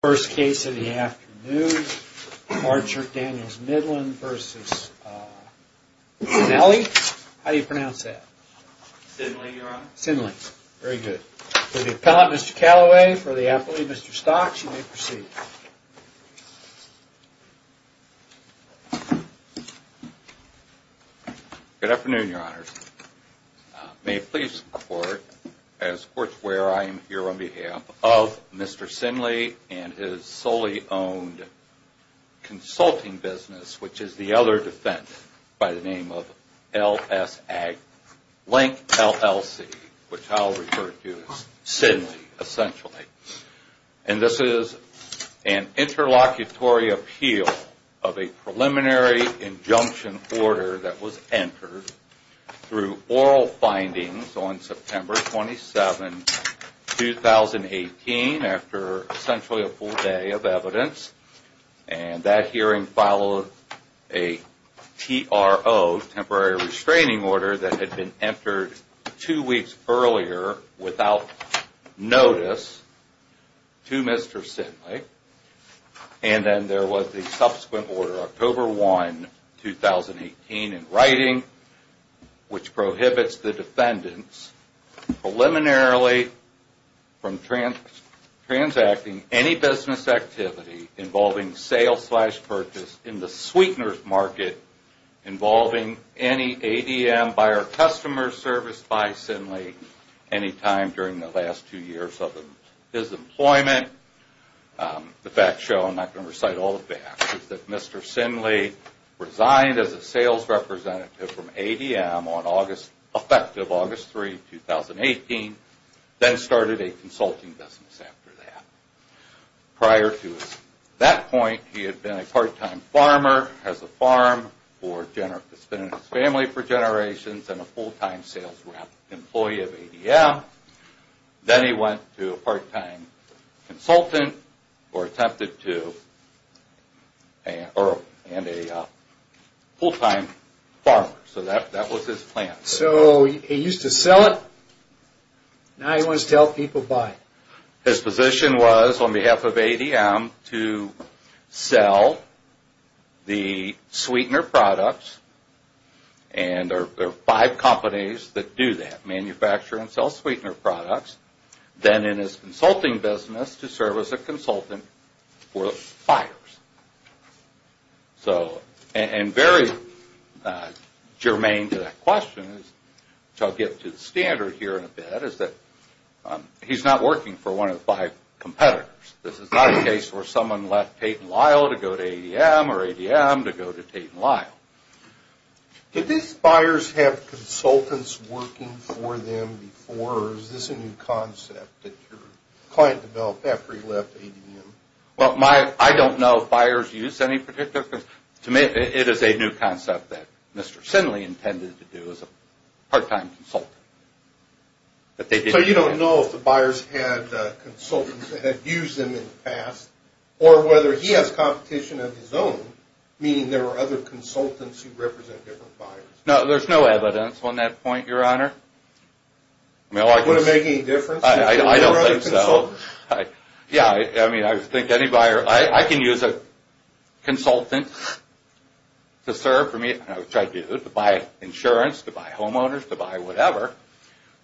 First case of the afternoon, Archer Daniels Midland v. Sinele. How do you pronounce that? Sinele, Your Honor. Sinele. Very good. For the appellant, Mr. Callaway, for the appellee, Mr. Stocks, you may proceed. Good afternoon, Your Honors. May it please the Court, as Courts where I am here on behalf of Mr. Sinele and his solely owned consulting business, which is the other defendant by the name of LSA, Link LLC, which I'll refer to as Sinele, essentially. And this is an interlocutory appeal of a preliminary injunction order that was entered through oral findings on September 27, 2018, after essentially a full day of evidence. And that hearing followed a TRO, Temporary Restraining Order, that had been entered two weeks earlier without notice to Mr. Sinele. And then there was the subsequent order, October 1, 2018, in writing, which prohibits the defendants preliminarily from transacting any business activity involving sales-slash-purchase in the sweeteners market involving any ADM, buyer-customer service by Sinele, any time during the last two years of his employment. The facts show, I'm not going to recite all the facts, that Mr. Sinele resigned as a sales representative from ADM on August, effective August 3, 2018, then started a consulting business after that. Prior to that point, he had been a part-time farmer, has a farm, has been in his family for generations, and a full-time sales rep, employee of ADM. Then he went to a part-time consultant, or attempted to, and a full-time farmer. So that was his plan. So he used to sell it, now he wants to help people buy it. His position was, on behalf of ADM, to sell the sweetener products, and there are five companies that do that, manufacture and sell sweetener products, then in his consulting business to serve as a consultant for the buyers. So, and very germane to that question, which I'll get to the standard here in a bit, is that he's not working for one of the five competitors. This is not a case where someone left Tate & Lyle to go to ADM, or ADM to go to Tate & Lyle. Did these buyers have consultants working for them before, or is this a new concept that your client developed after he left ADM? Well, I don't know if buyers use any particular consultants. To me, it is a new concept that Mr. Sinley intended to do as a part-time consultant. So you don't know if the buyers had consultants that had used them in the past, or whether he has competition of his own, meaning there were other consultants who represent different buyers. No, there's no evidence on that point, Your Honor. I don't think so. Yeah, I mean, I think any buyer – I can use a consultant to serve for me, which I do, to buy insurance, to buy homeowners, to buy whatever,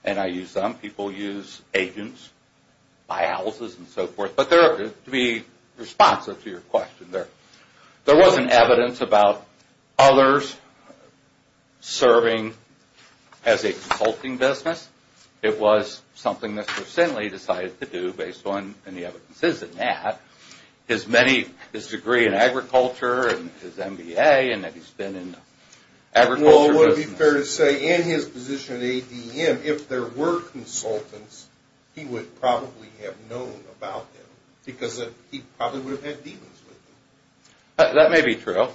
and I use them. People use agents, buy houses and so forth, but to be responsive to your question, there wasn't evidence about others serving as a consulting business. It was something that Mr. Sinley decided to do based on any evidences in that. His degree in agriculture and his MBA and that he's been in agriculture – Well, it would be fair to say, in his position at ADM, if there were consultants, he would probably have known about them because he probably would have had dealings with them. That may be true.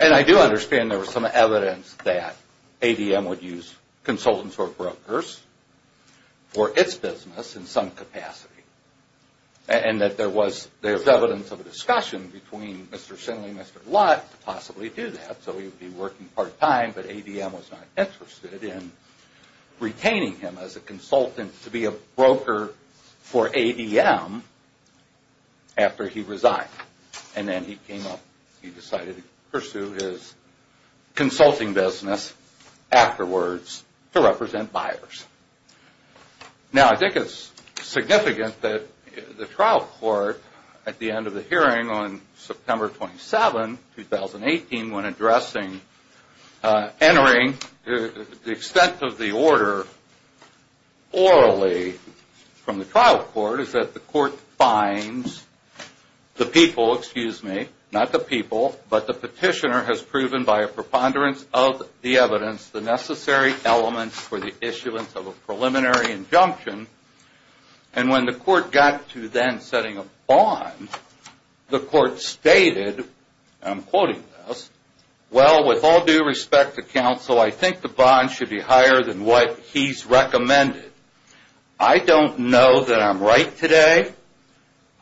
And I do understand there was some evidence that ADM would use consultants or brokers for its business in some capacity. And that there was evidence of a discussion between Mr. Sinley and Mr. Lott to possibly do that. So he would be working part-time, but ADM was not interested in retaining him as a consultant to be a broker for ADM after he resigned. And then he came up, he decided to pursue his consulting business afterwards to represent buyers. Now, I think it's significant that the trial court, at the end of the hearing on September 27, 2018, when addressing entering the extent of the order orally from the trial court, is that the court finds the people, excuse me, not the people, but the petitioner has proven by a preponderance of the evidence the necessary elements for the issuance of a preliminary injunction. And when the court got to then setting a bond, the court stated, and I'm quoting this, Well, with all due respect to counsel, I think the bond should be higher than what he's recommended. I don't know that I'm right today.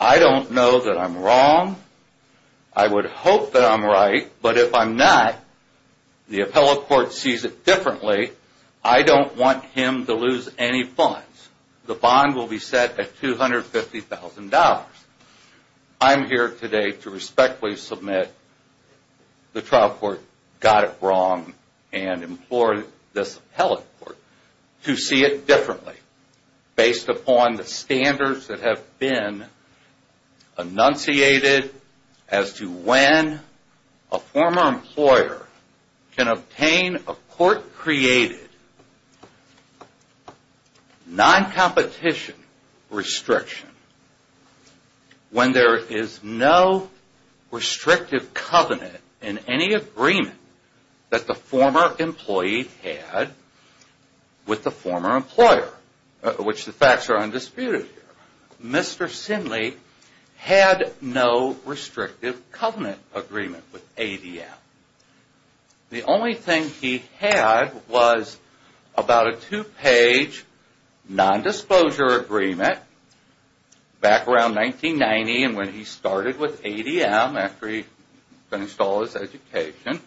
I don't know that I'm wrong. I would hope that I'm right. But if I'm not, the appellate court sees it differently. I don't want him to lose any funds. The bond will be set at $250,000. I'm here today to respectfully submit the trial court got it wrong and implored this appellate court to see it differently based upon the standards that have been enunciated as to when a former employer can obtain a court-created non-competition restriction when there is no restrictive covenant in any agreement that the former employee had with the former employer, which the facts are undisputed. Mr. Sinley had no restrictive covenant agreement with ADM. The only thing he had was about a two-page nondisclosure agreement back around 1990 and when he started with ADM after he finished all his education,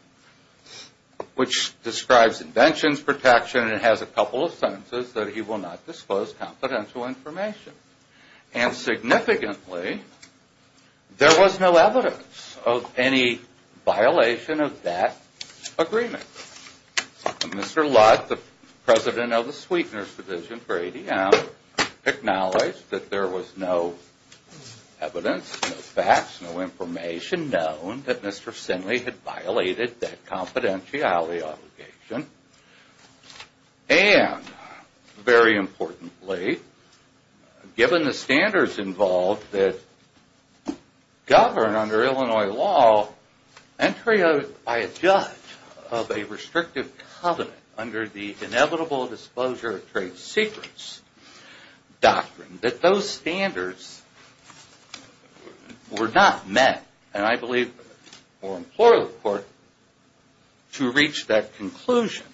which describes inventions protection and has a couple of sentences that he will not disclose confidential information. And significantly, there was no evidence of any violation of that agreement. Mr. Lutt, the president of the Sweetener's Division for ADM, acknowledged that there was no evidence, no facts, no information known that Mr. Sinley had violated that confidentiality obligation. And very importantly, given the standards involved that govern under Illinois law, entry by a judge of a restrictive covenant under the inevitable disclosure of trade secrets doctrine, that those standards were not met. And I believe the former employer of the court, to reach that conclusion,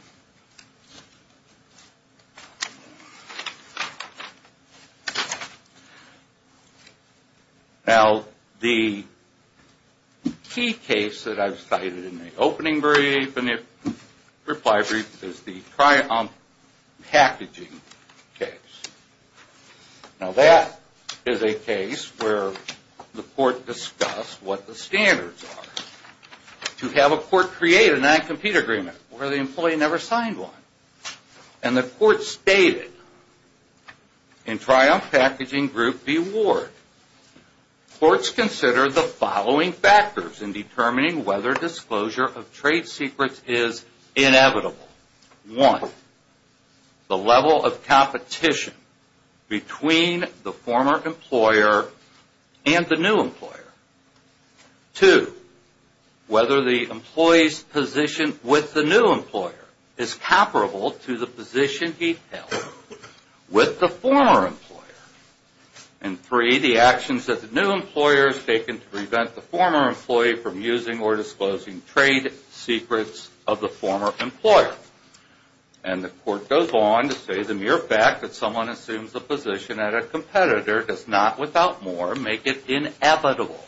now the key case that I've cited in the opening reply brief is the Triumph packaging case. Now that is a case where the court discussed what the standards are to have a court create a non-compete agreement where the employee never signed one. And the court stated, in Triumph Packaging Group v. Ward, courts consider the following factors in determining whether disclosure of trade secrets is inevitable. One, the level of competition between the former employer and the new employer. Two, whether the employee's position with the new employer is comparable to the position he held with the former employer. And three, the actions that the new employer has taken to prevent the former employee from using or disclosing trade secrets of the former employer. And the court goes on to say the mere fact that someone assumes a position at a competitor does not, without more, make it inevitable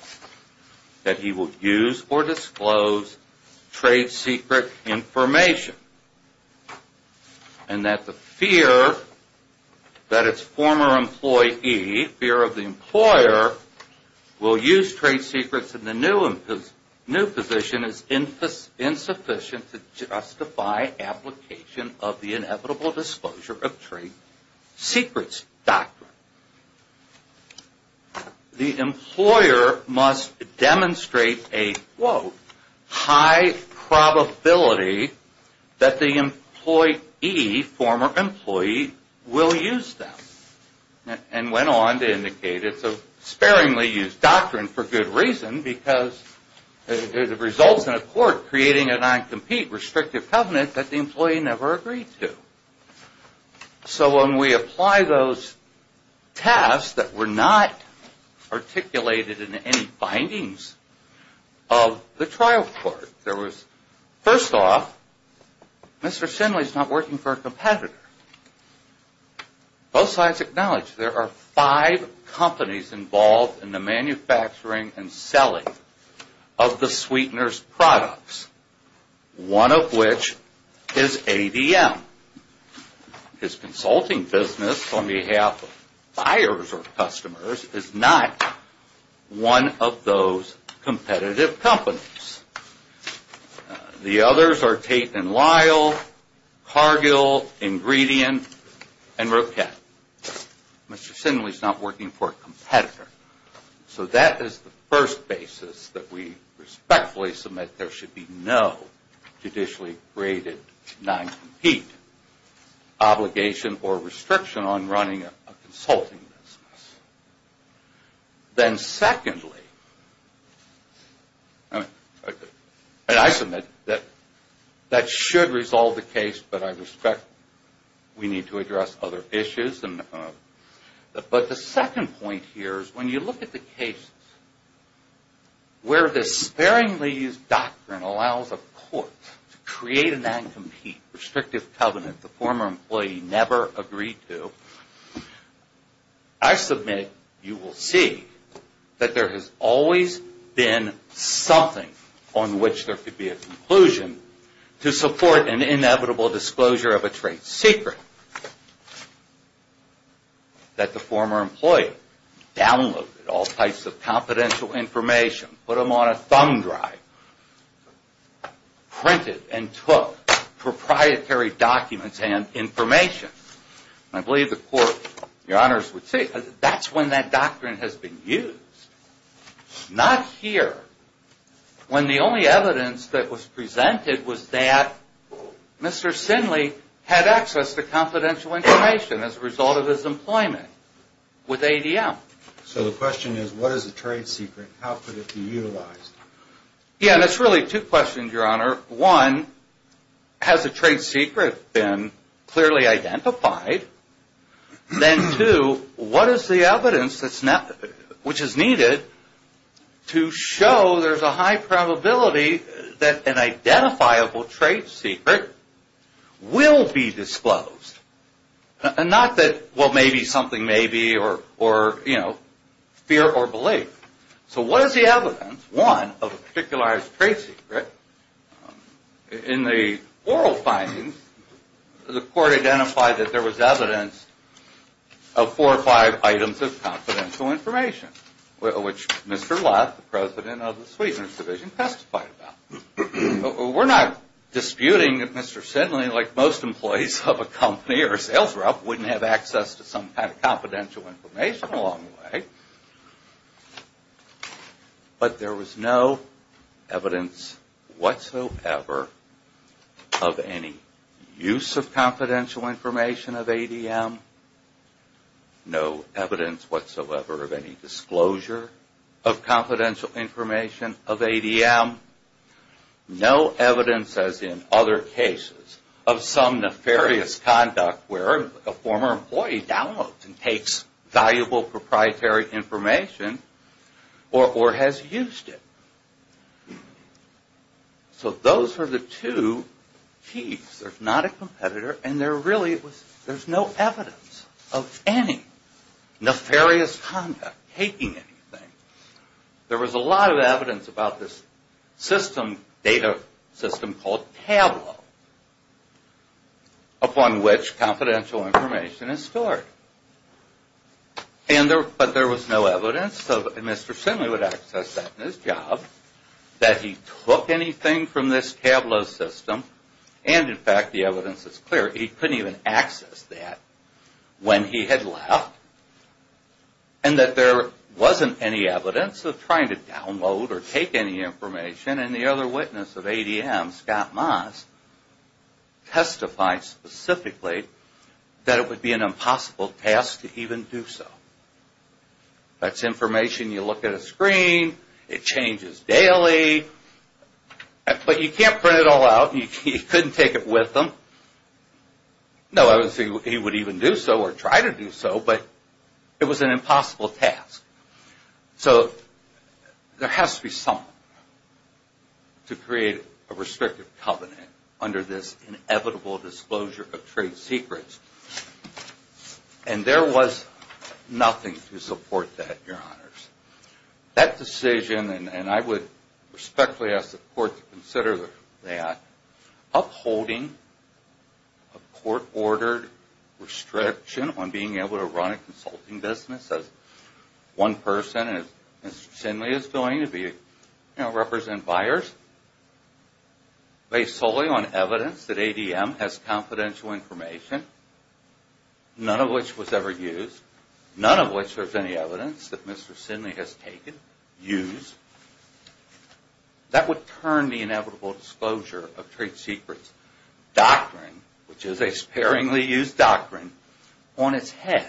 that he will use or disclose trade secret information. And that the fear that its former employee, fear of the employer, will use trade secrets in the new position is insufficient to justify application of the inevitable disclosure of trade secrets doctrine. The employer must demonstrate a, quote, high probability that the employee, former employee, will use them. And went on to indicate it's a sparingly used doctrine for good reason because it results in a court creating a non-compete restrictive covenant that the employee never agreed to. So when we apply those tasks that were not articulated in any findings of the trial court, there was, first off, Mr. Sinley's not working for a competitor. Both sides acknowledge there are five companies involved in the manufacturing and selling of the sweetener's products. One of which is ADM. His consulting business on behalf of buyers or customers is not one of those competitive companies. The others are Tate and Lyle, Cargill, Ingredient, and Roquet. Mr. Sinley's not working for a competitor. So that is the first basis that we respectfully submit there should be no judicially graded non-compete obligation or restriction on running a consulting business. Then secondly, and I submit that that should resolve the case, but I respect we need to address other issues. But the second point here is when you look at the case where the sparingly used doctrine allows a court to create a non-compete restrictive covenant the former employee never agreed to. I submit you will see that there has always been something on which there could be a conclusion to support an inevitable disclosure of a trade secret. That the former employee downloaded all types of confidential information, put them on a thumb drive, printed and took proprietary documents and information. I believe the court, your honors, would say that's when that doctrine has been used. Not here. When the only evidence that was presented was that Mr. Sinley had access to confidential information as a result of his employment with ADM. So the question is what is a trade secret? How could it be utilized? Yeah, that's really two questions, your honor. One, has a trade secret been clearly identified? Then two, what is the evidence which is needed to show there's a high probability that an identifiable trade secret will be disclosed? And not that, well, maybe something maybe or, you know, fear or belief. So what is the evidence, one, of a particularized trade secret? In the oral findings, the court identified that there was evidence of four or five items of confidential information, which Mr. Lott, the president of the Sweeteners Division, testified about. We're not disputing that Mr. Sinley, like most employees of a company or a sales rep, wouldn't have access to some kind of confidential information along the way. But there was no evidence whatsoever of any use of confidential information of ADM. No evidence whatsoever of any disclosure of confidential information of ADM. No evidence, as in other cases, of some nefarious conduct where a former employee downloads and takes valuable proprietary information or has used it. So those are the two keys. There's not a competitor, and there really was no evidence of any nefarious conduct, taking anything. There was a lot of evidence about this system, data system called Tableau, upon which confidential information is stored. But there was no evidence, and Mr. Sinley would access that in his job, that he took anything from this Tableau system, and in fact the evidence is clear, he couldn't even access that when he had left, and that there wasn't any evidence of trying to download or take any information. And the other witness of ADM, Scott Moss, testified specifically that it would be an impossible task to even do so. That's information you look at a screen, it changes daily, but you can't print it all out, you couldn't take it with them. No evidence he would even do so or try to do so, but it was an impossible task. So there has to be something to create a restrictive covenant under this inevitable disclosure of trade secrets, and there was nothing to support that, Your Honors. That decision, and I would respectfully ask the Court to consider that, upholding a court-ordered restriction on being able to run a consulting business as one person, as Mr. Sinley is doing, to represent buyers, based solely on evidence that ADM has confidential information, none of which was ever used, none of which there's any evidence that Mr. Sinley has taken, used, that would turn the inevitable disclosure of trade secrets doctrine, which is a sparingly used doctrine, on its head.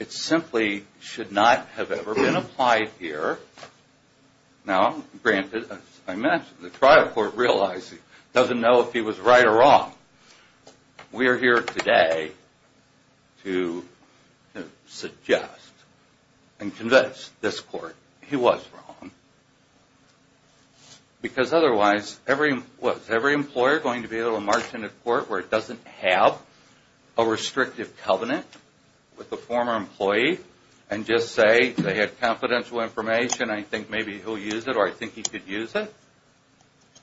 It simply should not have ever been applied here. Now, granted, as I mentioned, the trial court realized he doesn't know if he was right or wrong. We are here today to suggest and convince this Court he was wrong. Because otherwise, was every employer going to be able to march into court where it doesn't have a restrictive covenant with a former employee and just say they had confidential information, I think maybe he'll use it or I think he could use it?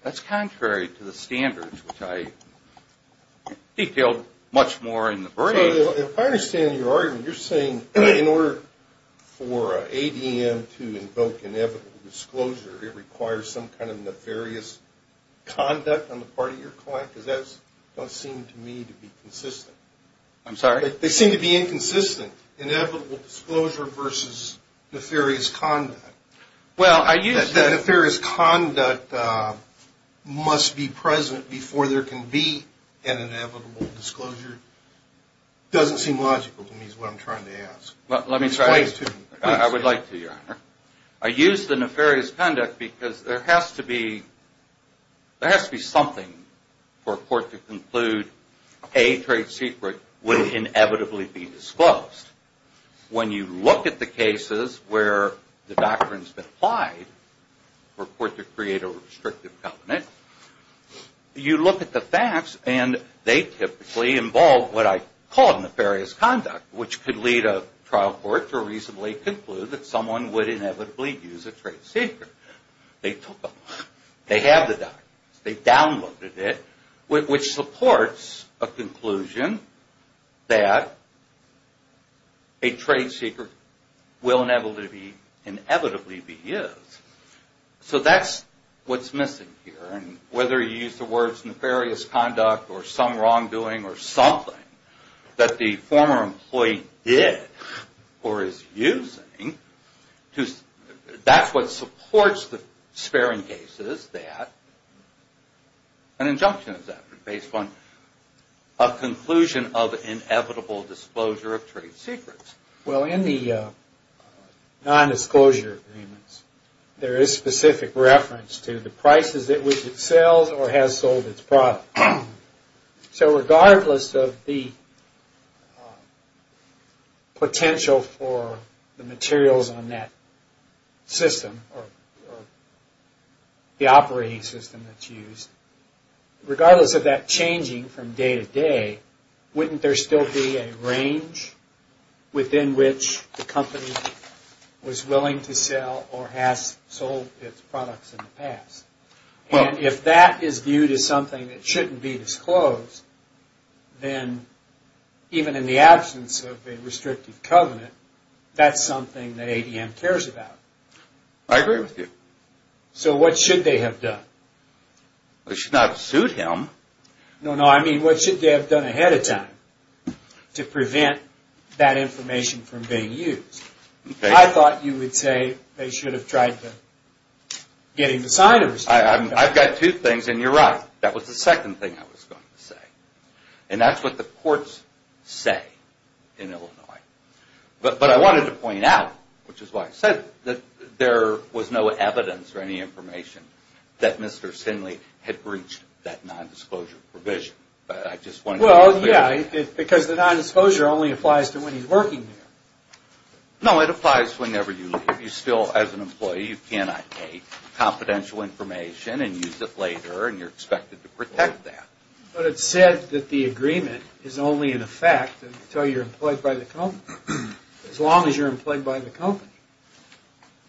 That's contrary to the standards, which I detailed much more in the brief. If I understand your argument, you're saying in order for ADM to invoke inevitable disclosure, it requires some kind of nefarious conduct on the part of your client? Because that doesn't seem to me to be consistent. I'm sorry? They seem to be inconsistent. Inevitable disclosure versus nefarious conduct. Well, I use the nefarious conduct must be present before there can be an inevitable disclosure. It doesn't seem logical to me is what I'm trying to ask. I would like to, Your Honor. I use the nefarious conduct because there has to be something for a court to conclude a trade secret would inevitably be disclosed. When you look at the cases where the doctrine's been applied for a court to create a restrictive covenant, you look at the facts and they typically involve what I call nefarious conduct, which could lead a trial court to reasonably conclude that someone would inevitably use a trade secret. They took them. They have the documents. They downloaded it, which supports a conclusion that a trade secret will inevitably be used. So that's what's missing here. And whether you use the words nefarious conduct or some wrongdoing or something that the former employee did or is using, that's what supports the sparing case is that an injunction is based upon a conclusion of inevitable disclosure of trade secrets. Well, in the nondisclosure agreements, there is specific reference to the prices at which it sells or has sold its product. So regardless of the potential for the materials on that system or the operating system that's used, regardless of that changing from day to day, wouldn't there still be a range within which the company was willing to sell or has sold its products in the past? And if that is viewed as something that shouldn't be disclosed, then even in the absence of a restrictive covenant, that's something that ADM cares about. I agree with you. So what should they have done? They should not have sued him. No, no. I mean, what should they have done ahead of time to prevent that information from being used? I thought you would say they should have tried to get him to sign a restrictive covenant. I've got two things, and you're right. That was the second thing I was going to say. And that's what the courts say in Illinois. But I wanted to point out, which is why I said that there was no evidence or any information that Mr. Sinley had breached that nondisclosure provision. Well, yeah, because the nondisclosure only applies to when he's working there. No, it applies whenever you leave. You still, as an employee, you cannot take confidential information and use it later, and you're expected to protect that. But it's said that the agreement is only in effect until you're employed by the company, as long as you're employed by the company.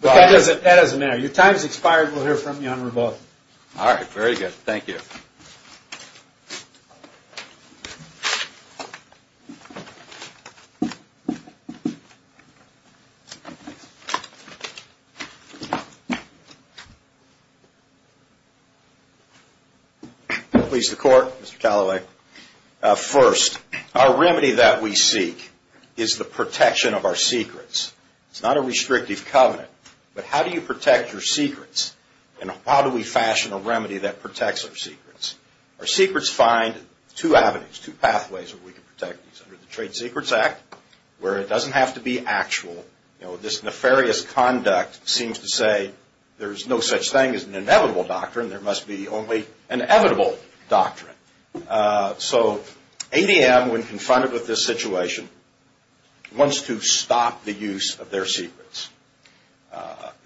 But that doesn't matter. Your time has expired. We'll hear from you on revoking. All right, very good. Thank you. Please, the Court. Mr. Callaway. First, our remedy that we seek is the protection of our secrets. It's not a restrictive covenant. But how do you protect your secrets, and how do we fashion a remedy that protects our secrets? Our secrets find two avenues, two pathways where we can protect these. Under the Trade Secrets Act, where it doesn't have to be actual. You know, this nefarious conduct seems to say there's no such thing as an inevitable doctrine. There must be only an inevitable doctrine. So ADM, when confronted with this situation, wants to stop the use of their secrets.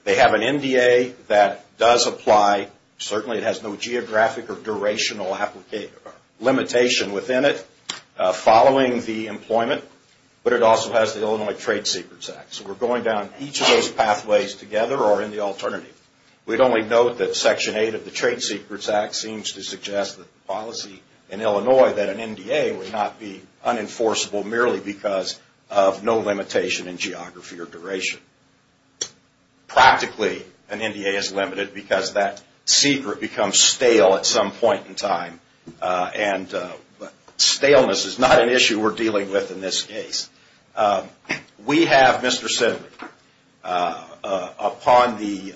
They have an NDA that does apply. Certainly, it has no geographic or durational limitation within it following the employment. But it also has the Illinois Trade Secrets Act. So we're going down each of those pathways together or in the alternative. We'd only note that Section 8 of the Trade Secrets Act seems to suggest that the policy in Illinois, that an NDA would not be unenforceable merely because of no limitation in geography or duration. Practically, an NDA is limited because that secret becomes stale at some point in time. And staleness is not an issue we're dealing with in this case. We have Mr. Sidley upon the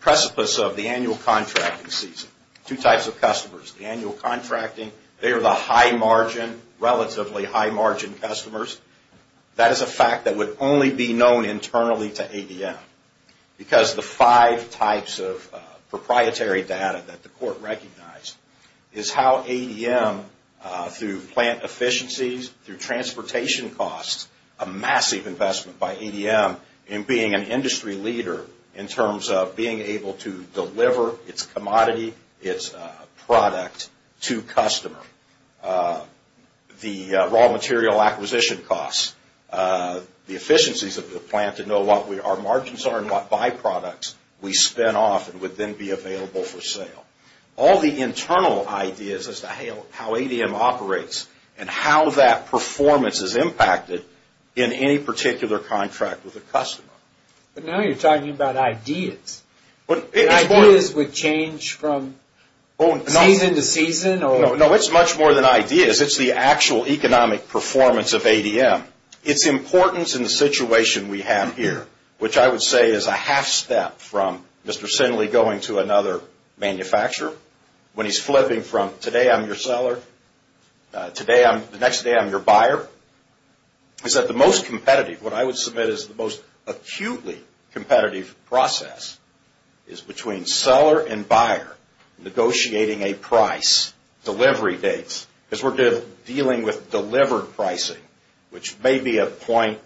precipice of the annual contracting season. Two types of customers. The annual contracting, they are the high margin, relatively high margin customers. That is a fact that would only be known internally to ADM. Because the five types of proprietary data that the court recognized is how ADM, through plant efficiencies, through transportation costs, a massive investment by ADM in being an industry leader in terms of being able to deliver its commodity, its product to customer. The raw material acquisition costs, the efficiencies of the plant to know what our margins are and what byproducts we spin off and would then be available for sale. All the internal ideas as to how ADM operates and how that performance is impacted in any particular contract with a customer. But now you're talking about ideas. Ideas would change from season to season? No, it's much more than ideas. It's the actual economic performance of ADM. It's importance in the situation we have here, which I would say is a half step from Mr. Sinley going to another manufacturer when he's flipping from today I'm your seller, the next day I'm your buyer, is that the most competitive, what I would submit is the most acutely competitive process is between seller and buyer negotiating a price, delivery dates. Because we're dealing with delivered pricing, which may be a point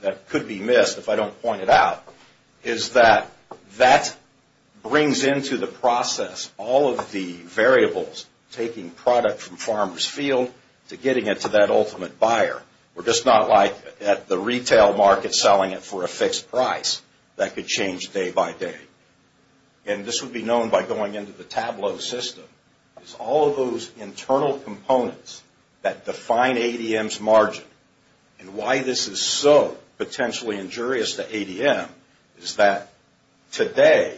that could be missed if I don't point it out, is that that brings into the process all of the variables taking product from farmer's field to getting it to that ultimate buyer. We're just not like at the retail market selling it for a fixed price. That could change day by day. And this would be known by going into the Tableau system. It's all of those internal components that define ADM's margin. And why this is so potentially injurious to ADM is that today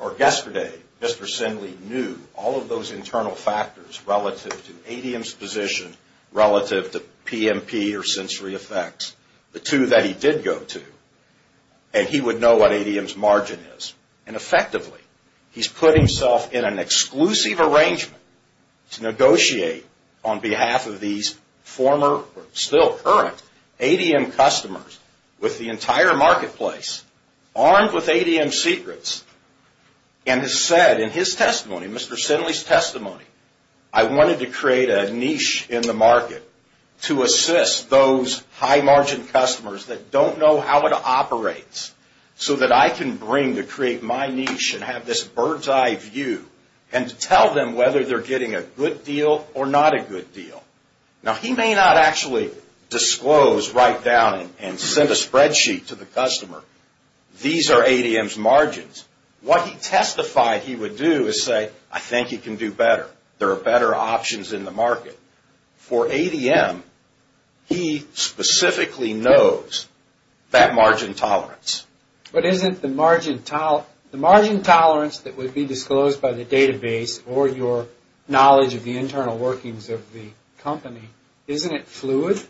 or yesterday, Mr. Sinley knew all of those internal factors relative to ADM's position, relative to PMP or sensory effects, the two that he did go to, and he would know what ADM's margin is. And effectively, he's put himself in an exclusive arrangement to negotiate on behalf of these former or still current ADM customers with the entire marketplace armed with ADM secrets and has said in his testimony, Mr. Sinley's testimony, I wanted to create a niche in the market to assist those high margin customers that don't know how it operates so that I can bring to create my niche and have this bird's eye view and tell them whether they're getting a good deal or not a good deal. Now, he may not actually disclose right down and send a spreadsheet to the customer. These are ADM's margins. What he testified he would do is say, I think you can do better. There are better options in the market. But for ADM, he specifically knows that margin tolerance. But isn't the margin tolerance that would be disclosed by the database or your knowledge of the internal workings of the company, isn't it fluid?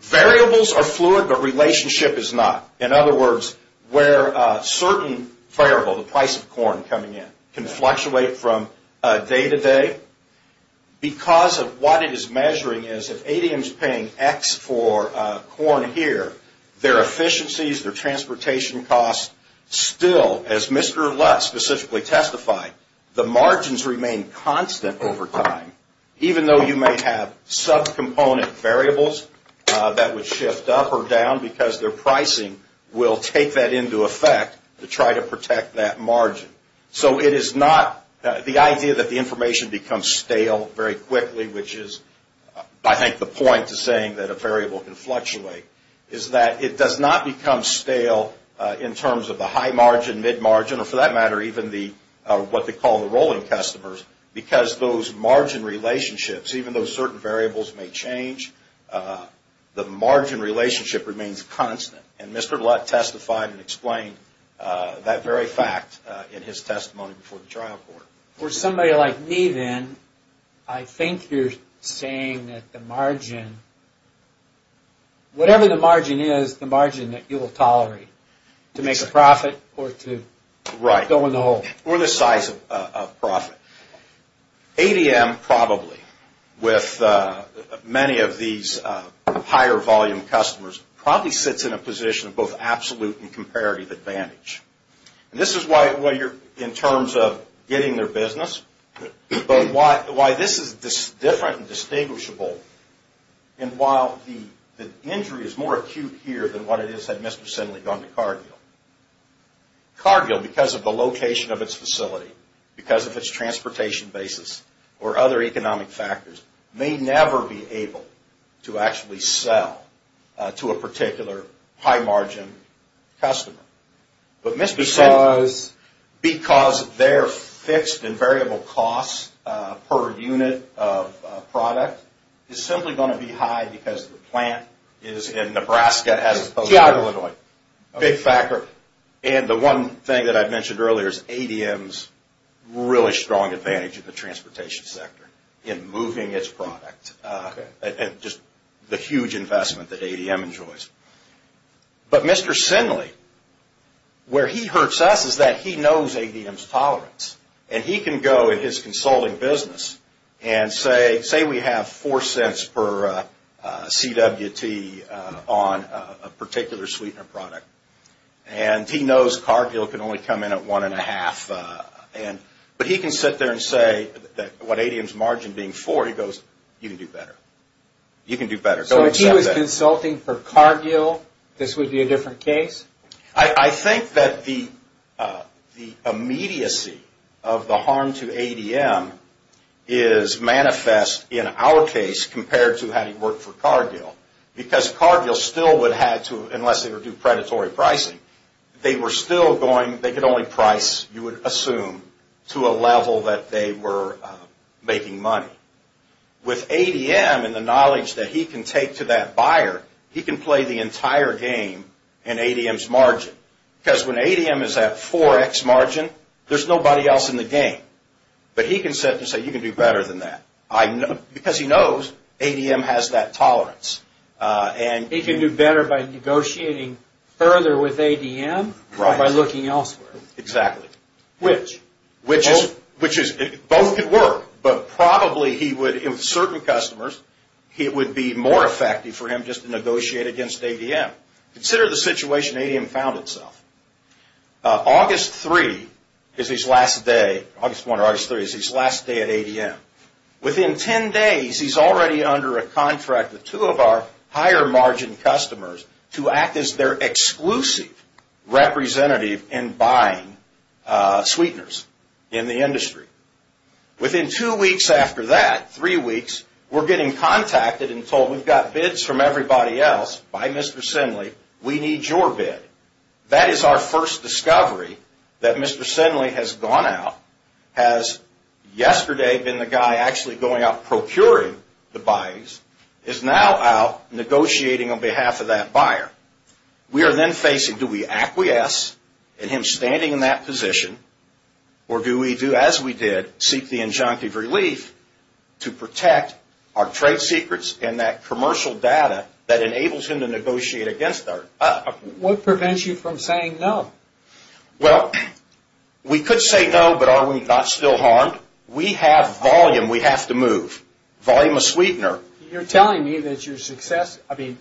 Variables are fluid, but relationship is not. In other words, where certain variable, the price of corn coming in, can fluctuate from day to day, because of what it is measuring is if ADM is paying X for corn here, their efficiencies, their transportation costs still, as Mr. Lutz specifically testified, the margins remain constant over time, even though you may have subcomponent variables that would shift up or down because their pricing will take that into effect to try to protect that margin. So it is not, the idea that the information becomes stale very quickly, which is I think the point to saying that a variable can fluctuate, is that it does not become stale in terms of the high margin, mid margin, or for that matter even what they call the rolling customers, because those margin relationships, even though certain variables may change, the margin relationship remains constant. And Mr. Lutz testified and explained that very fact in his testimony before the trial court. For somebody like me then, I think you're saying that the margin, whatever the margin is, the margin that you will tolerate to make a profit or to go in the hole. Or the size of profit. ADM probably, with many of these higher volume customers, probably sits in a position of both absolute and comparative advantage. And this is why you're, in terms of getting their business, but why this is different and distinguishable, and why the injury is more acute here than what it is had Mr. Sindley gone to Cargill. Cargill, because of the location of its facility, because of its transportation basis, or other economic factors, may never be able to actually sell to a particular high margin customer. But Mr. Sindley, because their fixed and variable cost per unit of product is simply going to be high because the plant is in Nebraska as opposed to Illinois. Big factor. And the one thing that I mentioned earlier is ADM's really strong advantage in the transportation sector. In moving its product. And just the huge investment that ADM enjoys. But Mr. Sindley, where he hurts us is that he knows ADM's tolerance. And he can go in his consulting business and say, say we have four cents per CWT on a particular sweetener product. And he knows Cargill can only come in at one and a half. But he can sit there and say, what ADM's margin being four, he goes, you can do better. You can do better. So if he was consulting for Cargill, this would be a different case? I think that the immediacy of the harm to ADM is manifest in our case compared to how it worked for Cargill. Because Cargill still would have to, unless they were due predatory pricing, they were still going, they could only price, you would assume, to a level that they were making money. With ADM and the knowledge that he can take to that buyer, he can play the entire game in ADM's margin. Because when ADM is at 4x margin, there's nobody else in the game. But he can sit there and say, you can do better than that. Because he knows ADM has that tolerance. He can do better by negotiating further with ADM or by looking elsewhere. Exactly. Which? Which is, both could work, but probably he would, in certain customers, it would be more effective for him just to negotiate against ADM. Consider the situation ADM found itself. August 3 is his last day, August 1 or August 3, is his last day at ADM. Within 10 days, he's already under a contract with two of our higher margin customers to act as their exclusive representative in buying sweeteners in the industry. Within two weeks after that, three weeks, we're getting contacted and told, we've got bids from everybody else, buy Mr. Sinley, we need your bid. That is our first discovery that Mr. Sinley has gone out, has yesterday been the guy actually going out procuring the buys, is now out negotiating on behalf of that buyer. We are then facing, do we acquiesce in him standing in that position, or do we do as we did, seek the injunctive relief to protect our trade secrets and that commercial data that enables him to negotiate against us? What prevents you from saying no? Well, we could say no, but are we not still harmed? We have volume we have to move. Volume of sweetener. You're telling me that you're successful. I mean,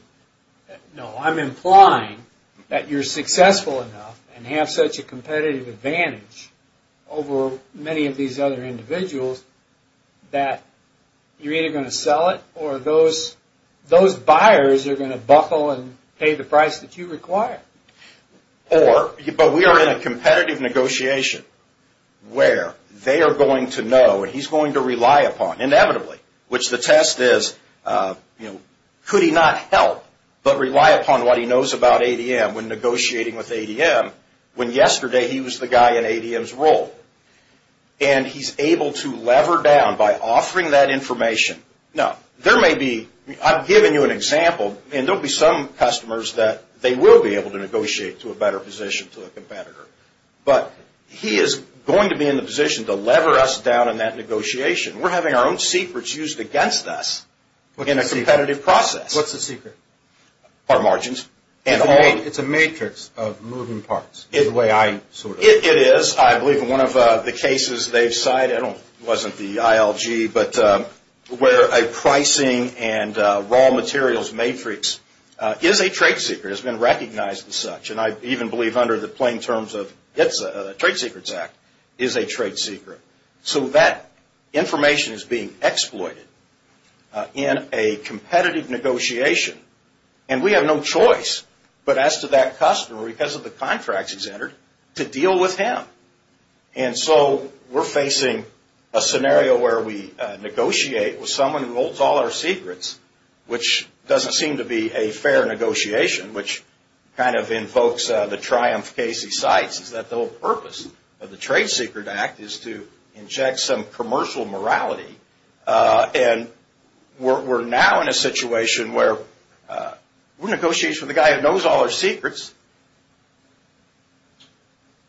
no, I'm implying that you're successful enough and have such a competitive advantage over many of these other individuals that you're either going to sell it or those buyers are going to buckle and pay the price that you require. But we are in a competitive negotiation where they are going to know and he's going to rely upon, inevitably, which the test is could he not help but rely upon what he knows about ADM when negotiating with ADM when yesterday he was the guy in ADM's role. And he's able to lever down by offering that information. Now, there may be, I've given you an example, and there will be some customers that they will be able to negotiate to a better position to a competitor. But he is going to be in the position to lever us down in that negotiation. We're having our own secrets used against us in a competitive process. What's the secret? Our margins. It's a matrix of moving parts. It is. I believe in one of the cases they've cited, it wasn't the ILG, but where a pricing and raw materials matrix is a trade secret, has been recognized as such. And I even believe under the plain terms of the Trade Secrets Act is a trade secret. So that information is being exploited in a competitive negotiation. And we have no choice but as to that customer, because of the contracts he's entered, to deal with him. And so we're facing a scenario where we negotiate with someone who holds all our secrets, which doesn't seem to be a fair negotiation, which kind of invokes the triumph case he cites, is that the whole purpose of the Trade Secret Act is to inject some commercial morality. And we're now in a situation where we're negotiating with a guy who knows all our secrets.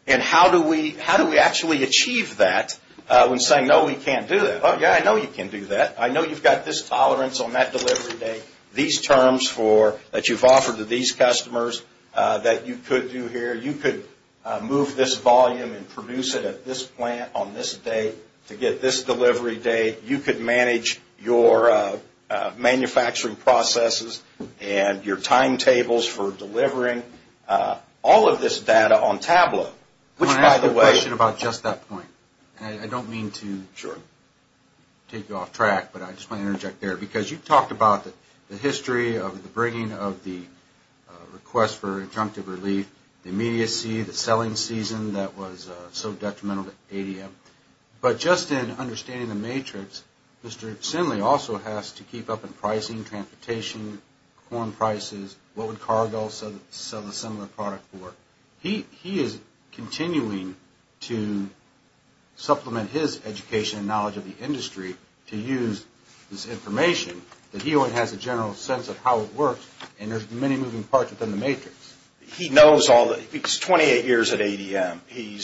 And how do we actually achieve that when saying, no, we can't do that? Oh, yeah, I know you can do that. I know you've got this tolerance on that delivery date, these terms that you've offered to these customers that you could do here. You could move this volume and produce it at this plant on this date to get this delivery date. You could manage your manufacturing processes and your timetables for delivering all of this data on Tableau. I want to ask a question about just that point. And I don't mean to take you off track, but I just want to interject there. Because you've talked about the history of the bringing of the request for injunctive relief, the immediacy, the selling season that was so detrimental to ADM. But just in understanding the matrix, Mr. Sinley also has to keep up in pricing, transportation, corn prices, what would Cargill sell a similar product for? He is continuing to supplement his education and knowledge of the industry to use this information. But he only has a general sense of how it works, and there's many moving parts within the matrix. He knows all the – he's 28 years at ADM. He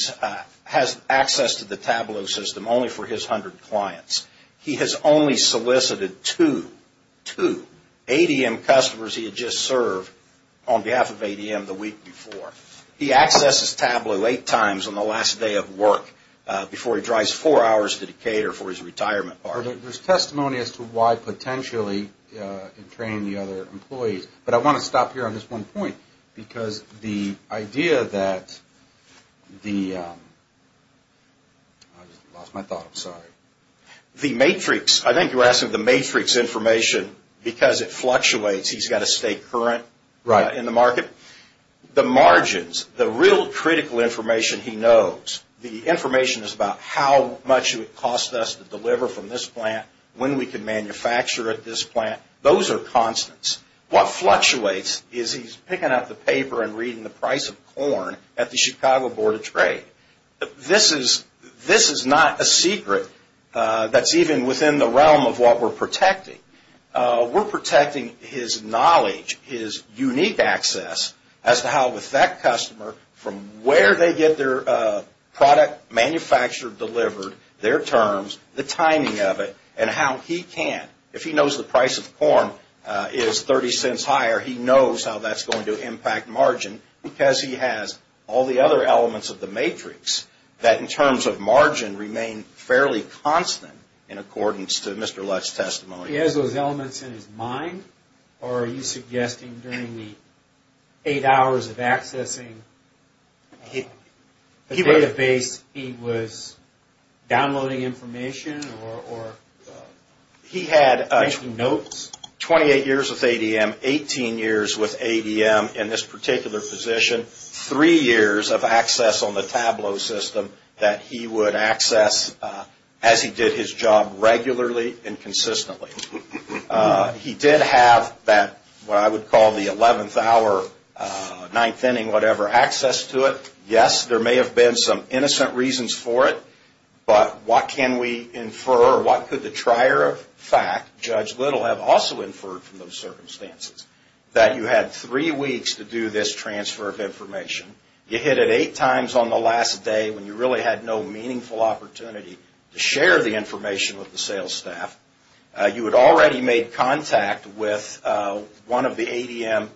has access to the Tableau system only for his 100 clients. He has only solicited two, two ADM customers he had just served on behalf of ADM the week before. He accesses Tableau eight times on the last day of work before he drives four hours to Decatur for his retirement. There's testimony as to why potentially it trained the other employees. But I want to stop here on this one point because the idea that the – I just lost my thought, I'm sorry. The matrix – I think you're asking the matrix information because it fluctuates. He's got a state current in the market. The margins, the real critical information he knows, the information is about how much it would cost us to deliver from this plant, when we can manufacture at this plant. Those are constants. What fluctuates is he's picking up the paper and reading the price of corn at the Chicago Board of Trade. This is not a secret that's even within the realm of what we're protecting. We're protecting his knowledge, his unique access as to how with that customer, from where they get their product manufactured, delivered, their terms, the timing of it, and how he can, if he knows the price of corn is 30 cents higher, he knows how that's going to impact margin because he has all the other elements of the matrix that, in terms of margin, remain fairly constant in accordance to Mr. Lutz's testimony. Are you suggesting during the eight hours of accessing the database, he was downloading information or making notes? He had 28 years with ADM, 18 years with ADM in this particular position, three years of access on the Tableau system that he would access as he did his job regularly and consistently. He did have that, what I would call the 11th hour, ninth inning, whatever, access to it. Yes, there may have been some innocent reasons for it, but what can we infer, or what could the trier of fact, Judge Little have also inferred from those circumstances, that you had three weeks to do this transfer of information, you hit it eight times on the last day when you really had no meaningful opportunity to share the information with the sales staff, you had already made contact with one of the ADM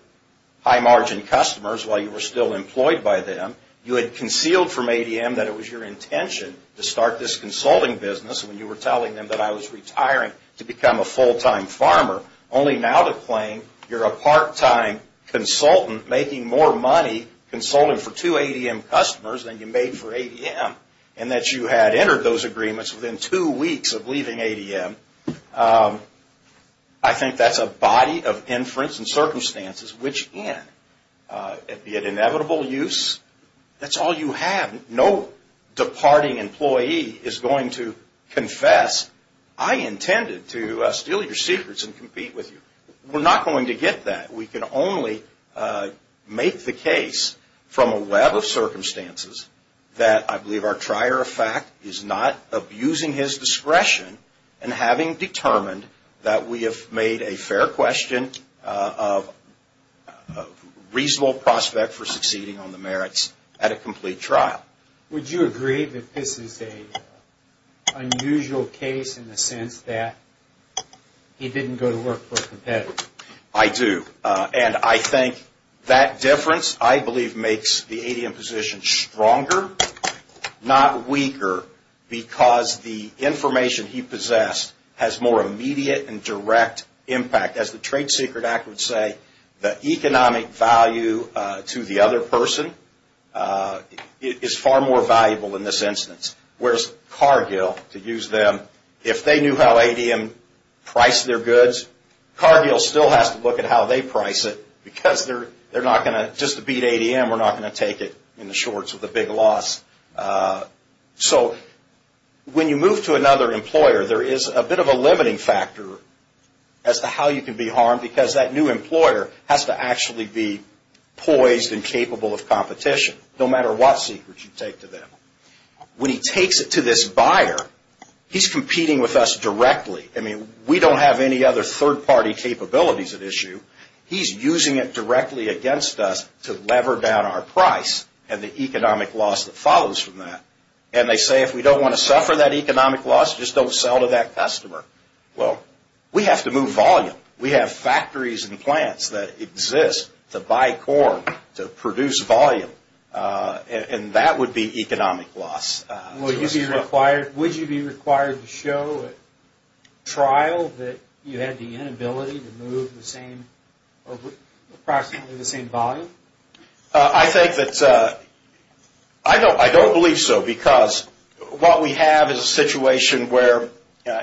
high margin customers while you were still employed by them, you had concealed from ADM that it was your intention to start this consulting business when you were telling them that I was retiring to become a full-time farmer, only now to claim you're a part-time consultant making more money consulting for two ADM customers than you made for ADM, and that you had entered those agreements within two weeks of leaving ADM. I think that's a body of inference and circumstances which in, be it inevitable use, that's all you have. No departing employee is going to confess, I intended to steal your secrets and compete with you. We're not going to get that, we can only make the case from a web of circumstances that I believe our trier of fact is not abusing his discretion in having determined that we have made a fair question of reasonable prospect for succeeding on the merits at a complete trial. Would you agree that this is an unusual case in the sense that he didn't go to work for a competitor? I do, and I think that difference I believe makes the ADM position stronger, not weaker, because the information he possessed has more immediate and direct impact. As the Trade Secret Act would say, the economic value to the other person is far more valuable in this instance, whereas Cargill, to use them, if they knew how ADM priced their goods, Cargill still has to look at how they price it because they're not going to, just to beat ADM, we're not going to take it in the shorts with a big loss. So when you move to another employer, there is a bit of a limiting factor as to how you can be harmed because that new employer has to actually be poised and capable of competition, no matter what secrets you take to them. When he takes it to this buyer, he's competing with us directly. I mean, we don't have any other third-party capabilities at issue. He's using it directly against us to lever down our price and the economic loss that follows from that. And they say, if we don't want to suffer that economic loss, just don't sell to that customer. Well, we have to move volume. We have factories and plants that exist to buy corn, to produce volume, and that would be economic loss. Would you be required to show at trial that you had the inability to move approximately the same volume? I don't believe so because what we have is a situation where,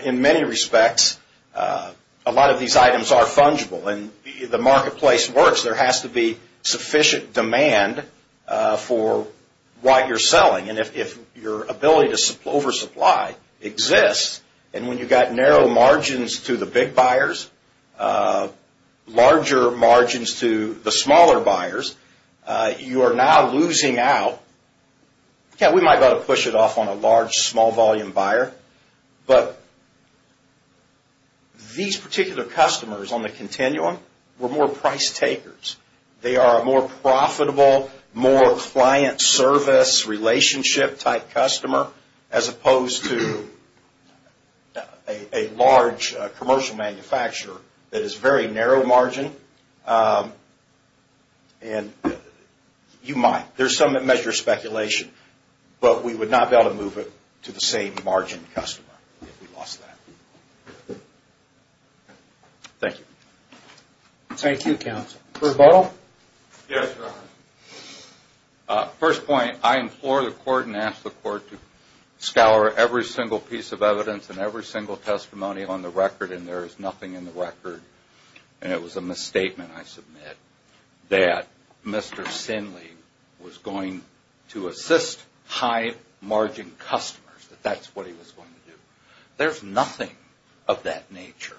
in many respects, a lot of these items are fungible. And the marketplace works. There has to be sufficient demand for what you're selling. And if your ability to oversupply exists, and when you've got narrow margins to the big buyers, larger margins to the smaller buyers, you are now losing out. Yeah, we might be able to push it off on a large, small-volume buyer. But these particular customers on the continuum were more price takers. They are a more profitable, more client-service-relationship-type customer as opposed to a large commercial manufacturer that is very narrow margin. And you might. There's some that measure speculation. But we would not be able to move it to the same margin customer if we lost that. Thank you. Thank you, counsel. Rebuttal? Yes, Your Honor. First point, I implore the Court and ask the Court to scour every single piece of evidence and every single testimony on the record, and there is nothing in the record, and it was a misstatement I submit, that Mr. Sinley was going to assist high-margin customers, that that's what he was going to do. There's nothing of that nature.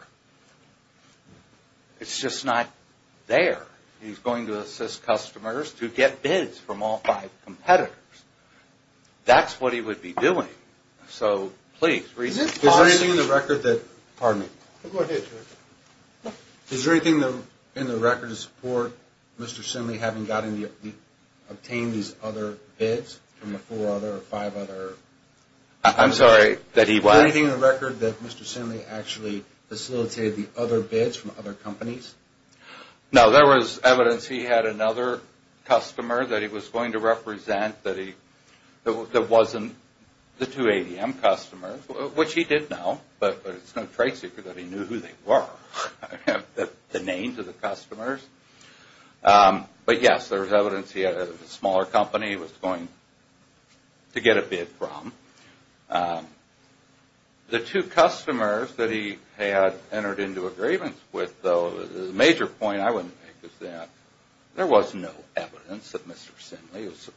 It's just not there. He's going to assist customers to get bids from all five competitors. That's what he would be doing. So, please, reason. Is there anything in the record that, pardon me? Go ahead, Judge. Is there anything in the record to support Mr. Sinley having obtained these other bids from the four other or five other? I'm sorry, that he was? Is there anything in the record that Mr. Sinley actually facilitated the other bids from other companies? No, there was evidence he had another customer that he was going to represent that wasn't the two ADM customers, which he did know, but it's no trade secret that he knew who they were, the names of the customers. But, yes, there's evidence he had a smaller company he was going to get a bid from. The two customers that he had entered into agreements with, though, the major point I would make is that there was no evidence that Mr. Sinley was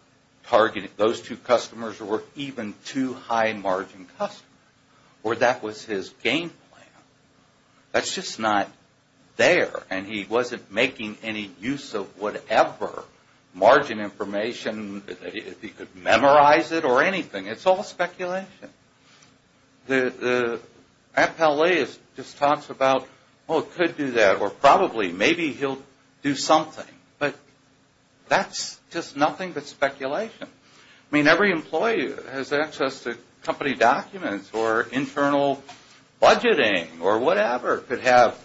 targeting those two customers or were even two high-margin customers, or that was his game plan. That's just not there, and he wasn't making any use of whatever margin information, if he could memorize it or anything. It's all speculation. The appellate just talks about, oh, it could do that, or probably, maybe he'll do something. I mean, every employee has access to company documents or internal budgeting or whatever, could have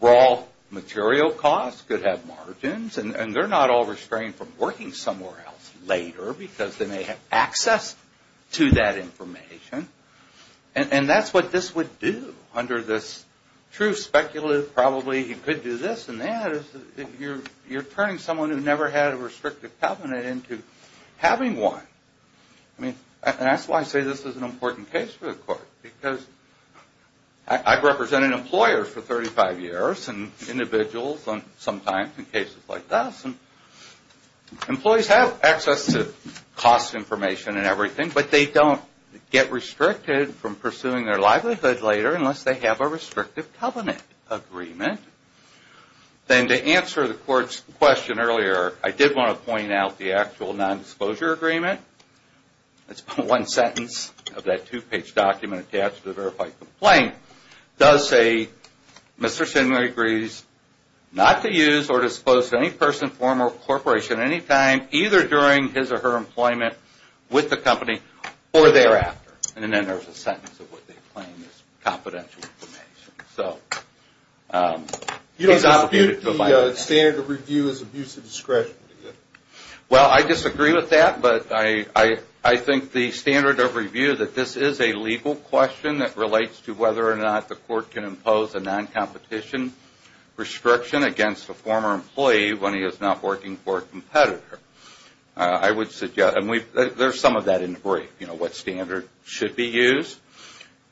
raw material costs, could have margins, and they're not all restrained from working somewhere else later because they may have access to that information. And that's what this would do under this true speculative, probably he could do this and that, because you're turning someone who never had a restrictive covenant into having one. I mean, and that's why I say this is an important case for the court, because I've represented employers for 35 years and individuals sometimes in cases like this, and employees have access to cost information and everything, but they don't get restricted from pursuing their livelihood later unless they have a restrictive covenant agreement. Then to answer the court's question earlier, I did want to point out the actual nondisclosure agreement. That's one sentence of that two-page document attached to the verified complaint. It does say, Mr. Sinway agrees not to use or disclose to any person, firm, or corporation at any time, either during his or her employment with the company or thereafter. And then there's a sentence of what they claim is confidential information. You don't dispute the standard of review as abuse of discretion? Well, I disagree with that, but I think the standard of review that this is a legal question that relates to whether or not the court can impose a non-competition restriction against a former employee when he is not working for a competitor. I would suggest, and there's some of that in the brief, you know, what standard should be used.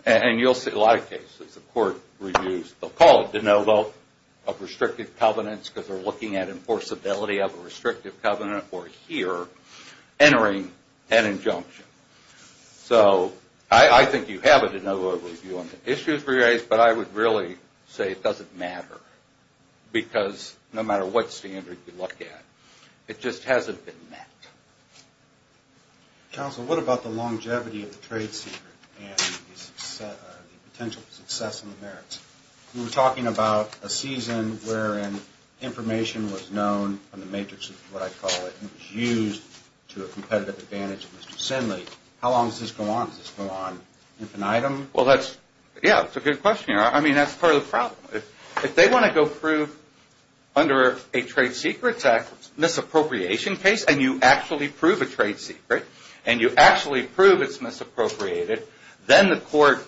And you'll see a lot of cases the court reviews, they'll call it de novo of restrictive covenants because they're looking at enforceability of a restrictive covenant or here entering an injunction. So I think you have a de novo review on the issues raised, but I would really say it doesn't matter. Because no matter what standard you look at, it just hasn't been met. Counsel, what about the longevity of the trade secret and the potential for success in the merits? We were talking about a season wherein information was known on the matrix of what I call it, to a competitive advantage of Mr. Sinley. How long does this go on? Does this go on infinitum? Well, that's, yeah, it's a good question. I mean, that's part of the problem. If they want to go prove under a Trade Secrets Act misappropriation case, and you actually prove a trade secret, and you actually prove it's misappropriated, then the court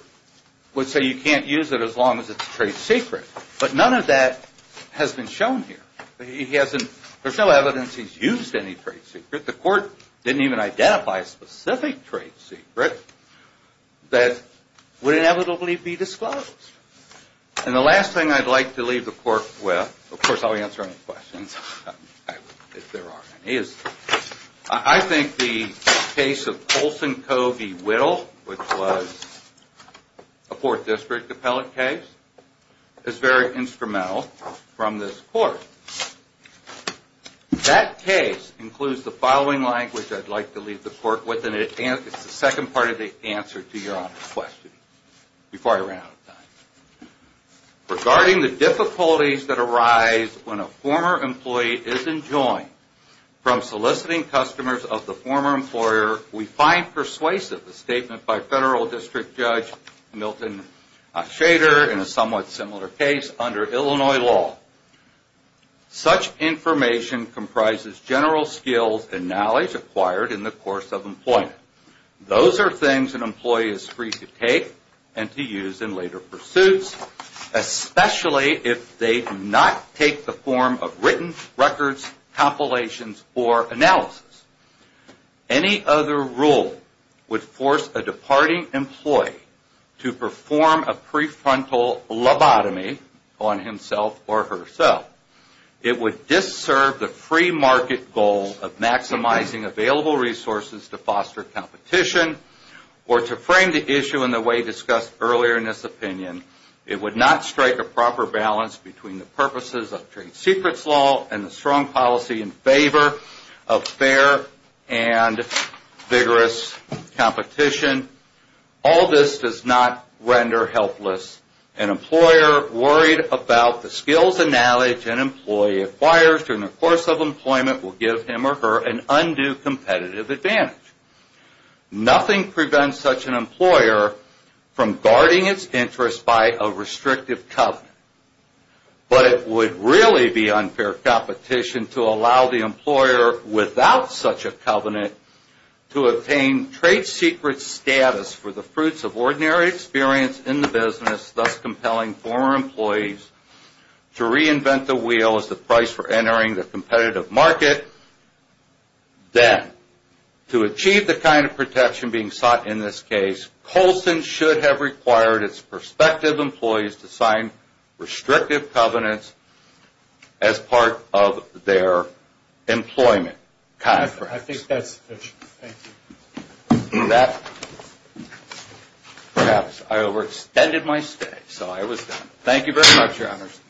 would say you can't use it as long as it's a trade secret. But none of that has been shown here. There's no evidence he's used any trade secret. The court didn't even identify a specific trade secret that would inevitably be disclosed. And the last thing I'd like to leave the court with, of course, I'll answer any questions if there are any, is I think the case of Colson Covey Whittle, which was a Fourth District appellate case, is very instrumental from this court. That case includes the following language I'd like to leave the court with, and it's the second part of the answer to your honest question, before I run out of time. Regarding the difficulties that arise when a former employee isn't joined from soliciting customers of the former employer, we find persuasive the statement by Federal District Judge Milton Shader in a somewhat similar case under Illinois law. Such information comprises general skills and knowledge acquired in the course of employment. Those are things an employee is free to take and to use in later pursuits, especially if they do not take the form of written records, compilations, or analysis. Any other rule would force a departing employee to perform a prefrontal lobotomy on himself or herself. It would disserve the free market goal of maximizing available resources to foster competition, or to frame the issue in the way discussed earlier in this opinion. It would not strike a proper balance between the purposes of trade secrets law and the strong policy in favor of fair and vigorous competition. All this does not render helpless. An employer worried about the skills and knowledge an employee acquires during the course of employment will give him or her an undue competitive advantage. Nothing prevents such an employer from guarding its interests by a restrictive covenant. But it would really be unfair competition to allow the employer without such a covenant to obtain trade secret status for the fruits of ordinary experience in the business, thus compelling former employees to reinvent the wheel as the price for entering the competitive market. Then, to achieve the kind of protection being sought in this case, Colson should have required its prospective employees to sign restrictive covenants as part of their employment contracts. I think that's it. Thank you. Perhaps I overextended my stay, so I was done. Thank you very much, Your Honors.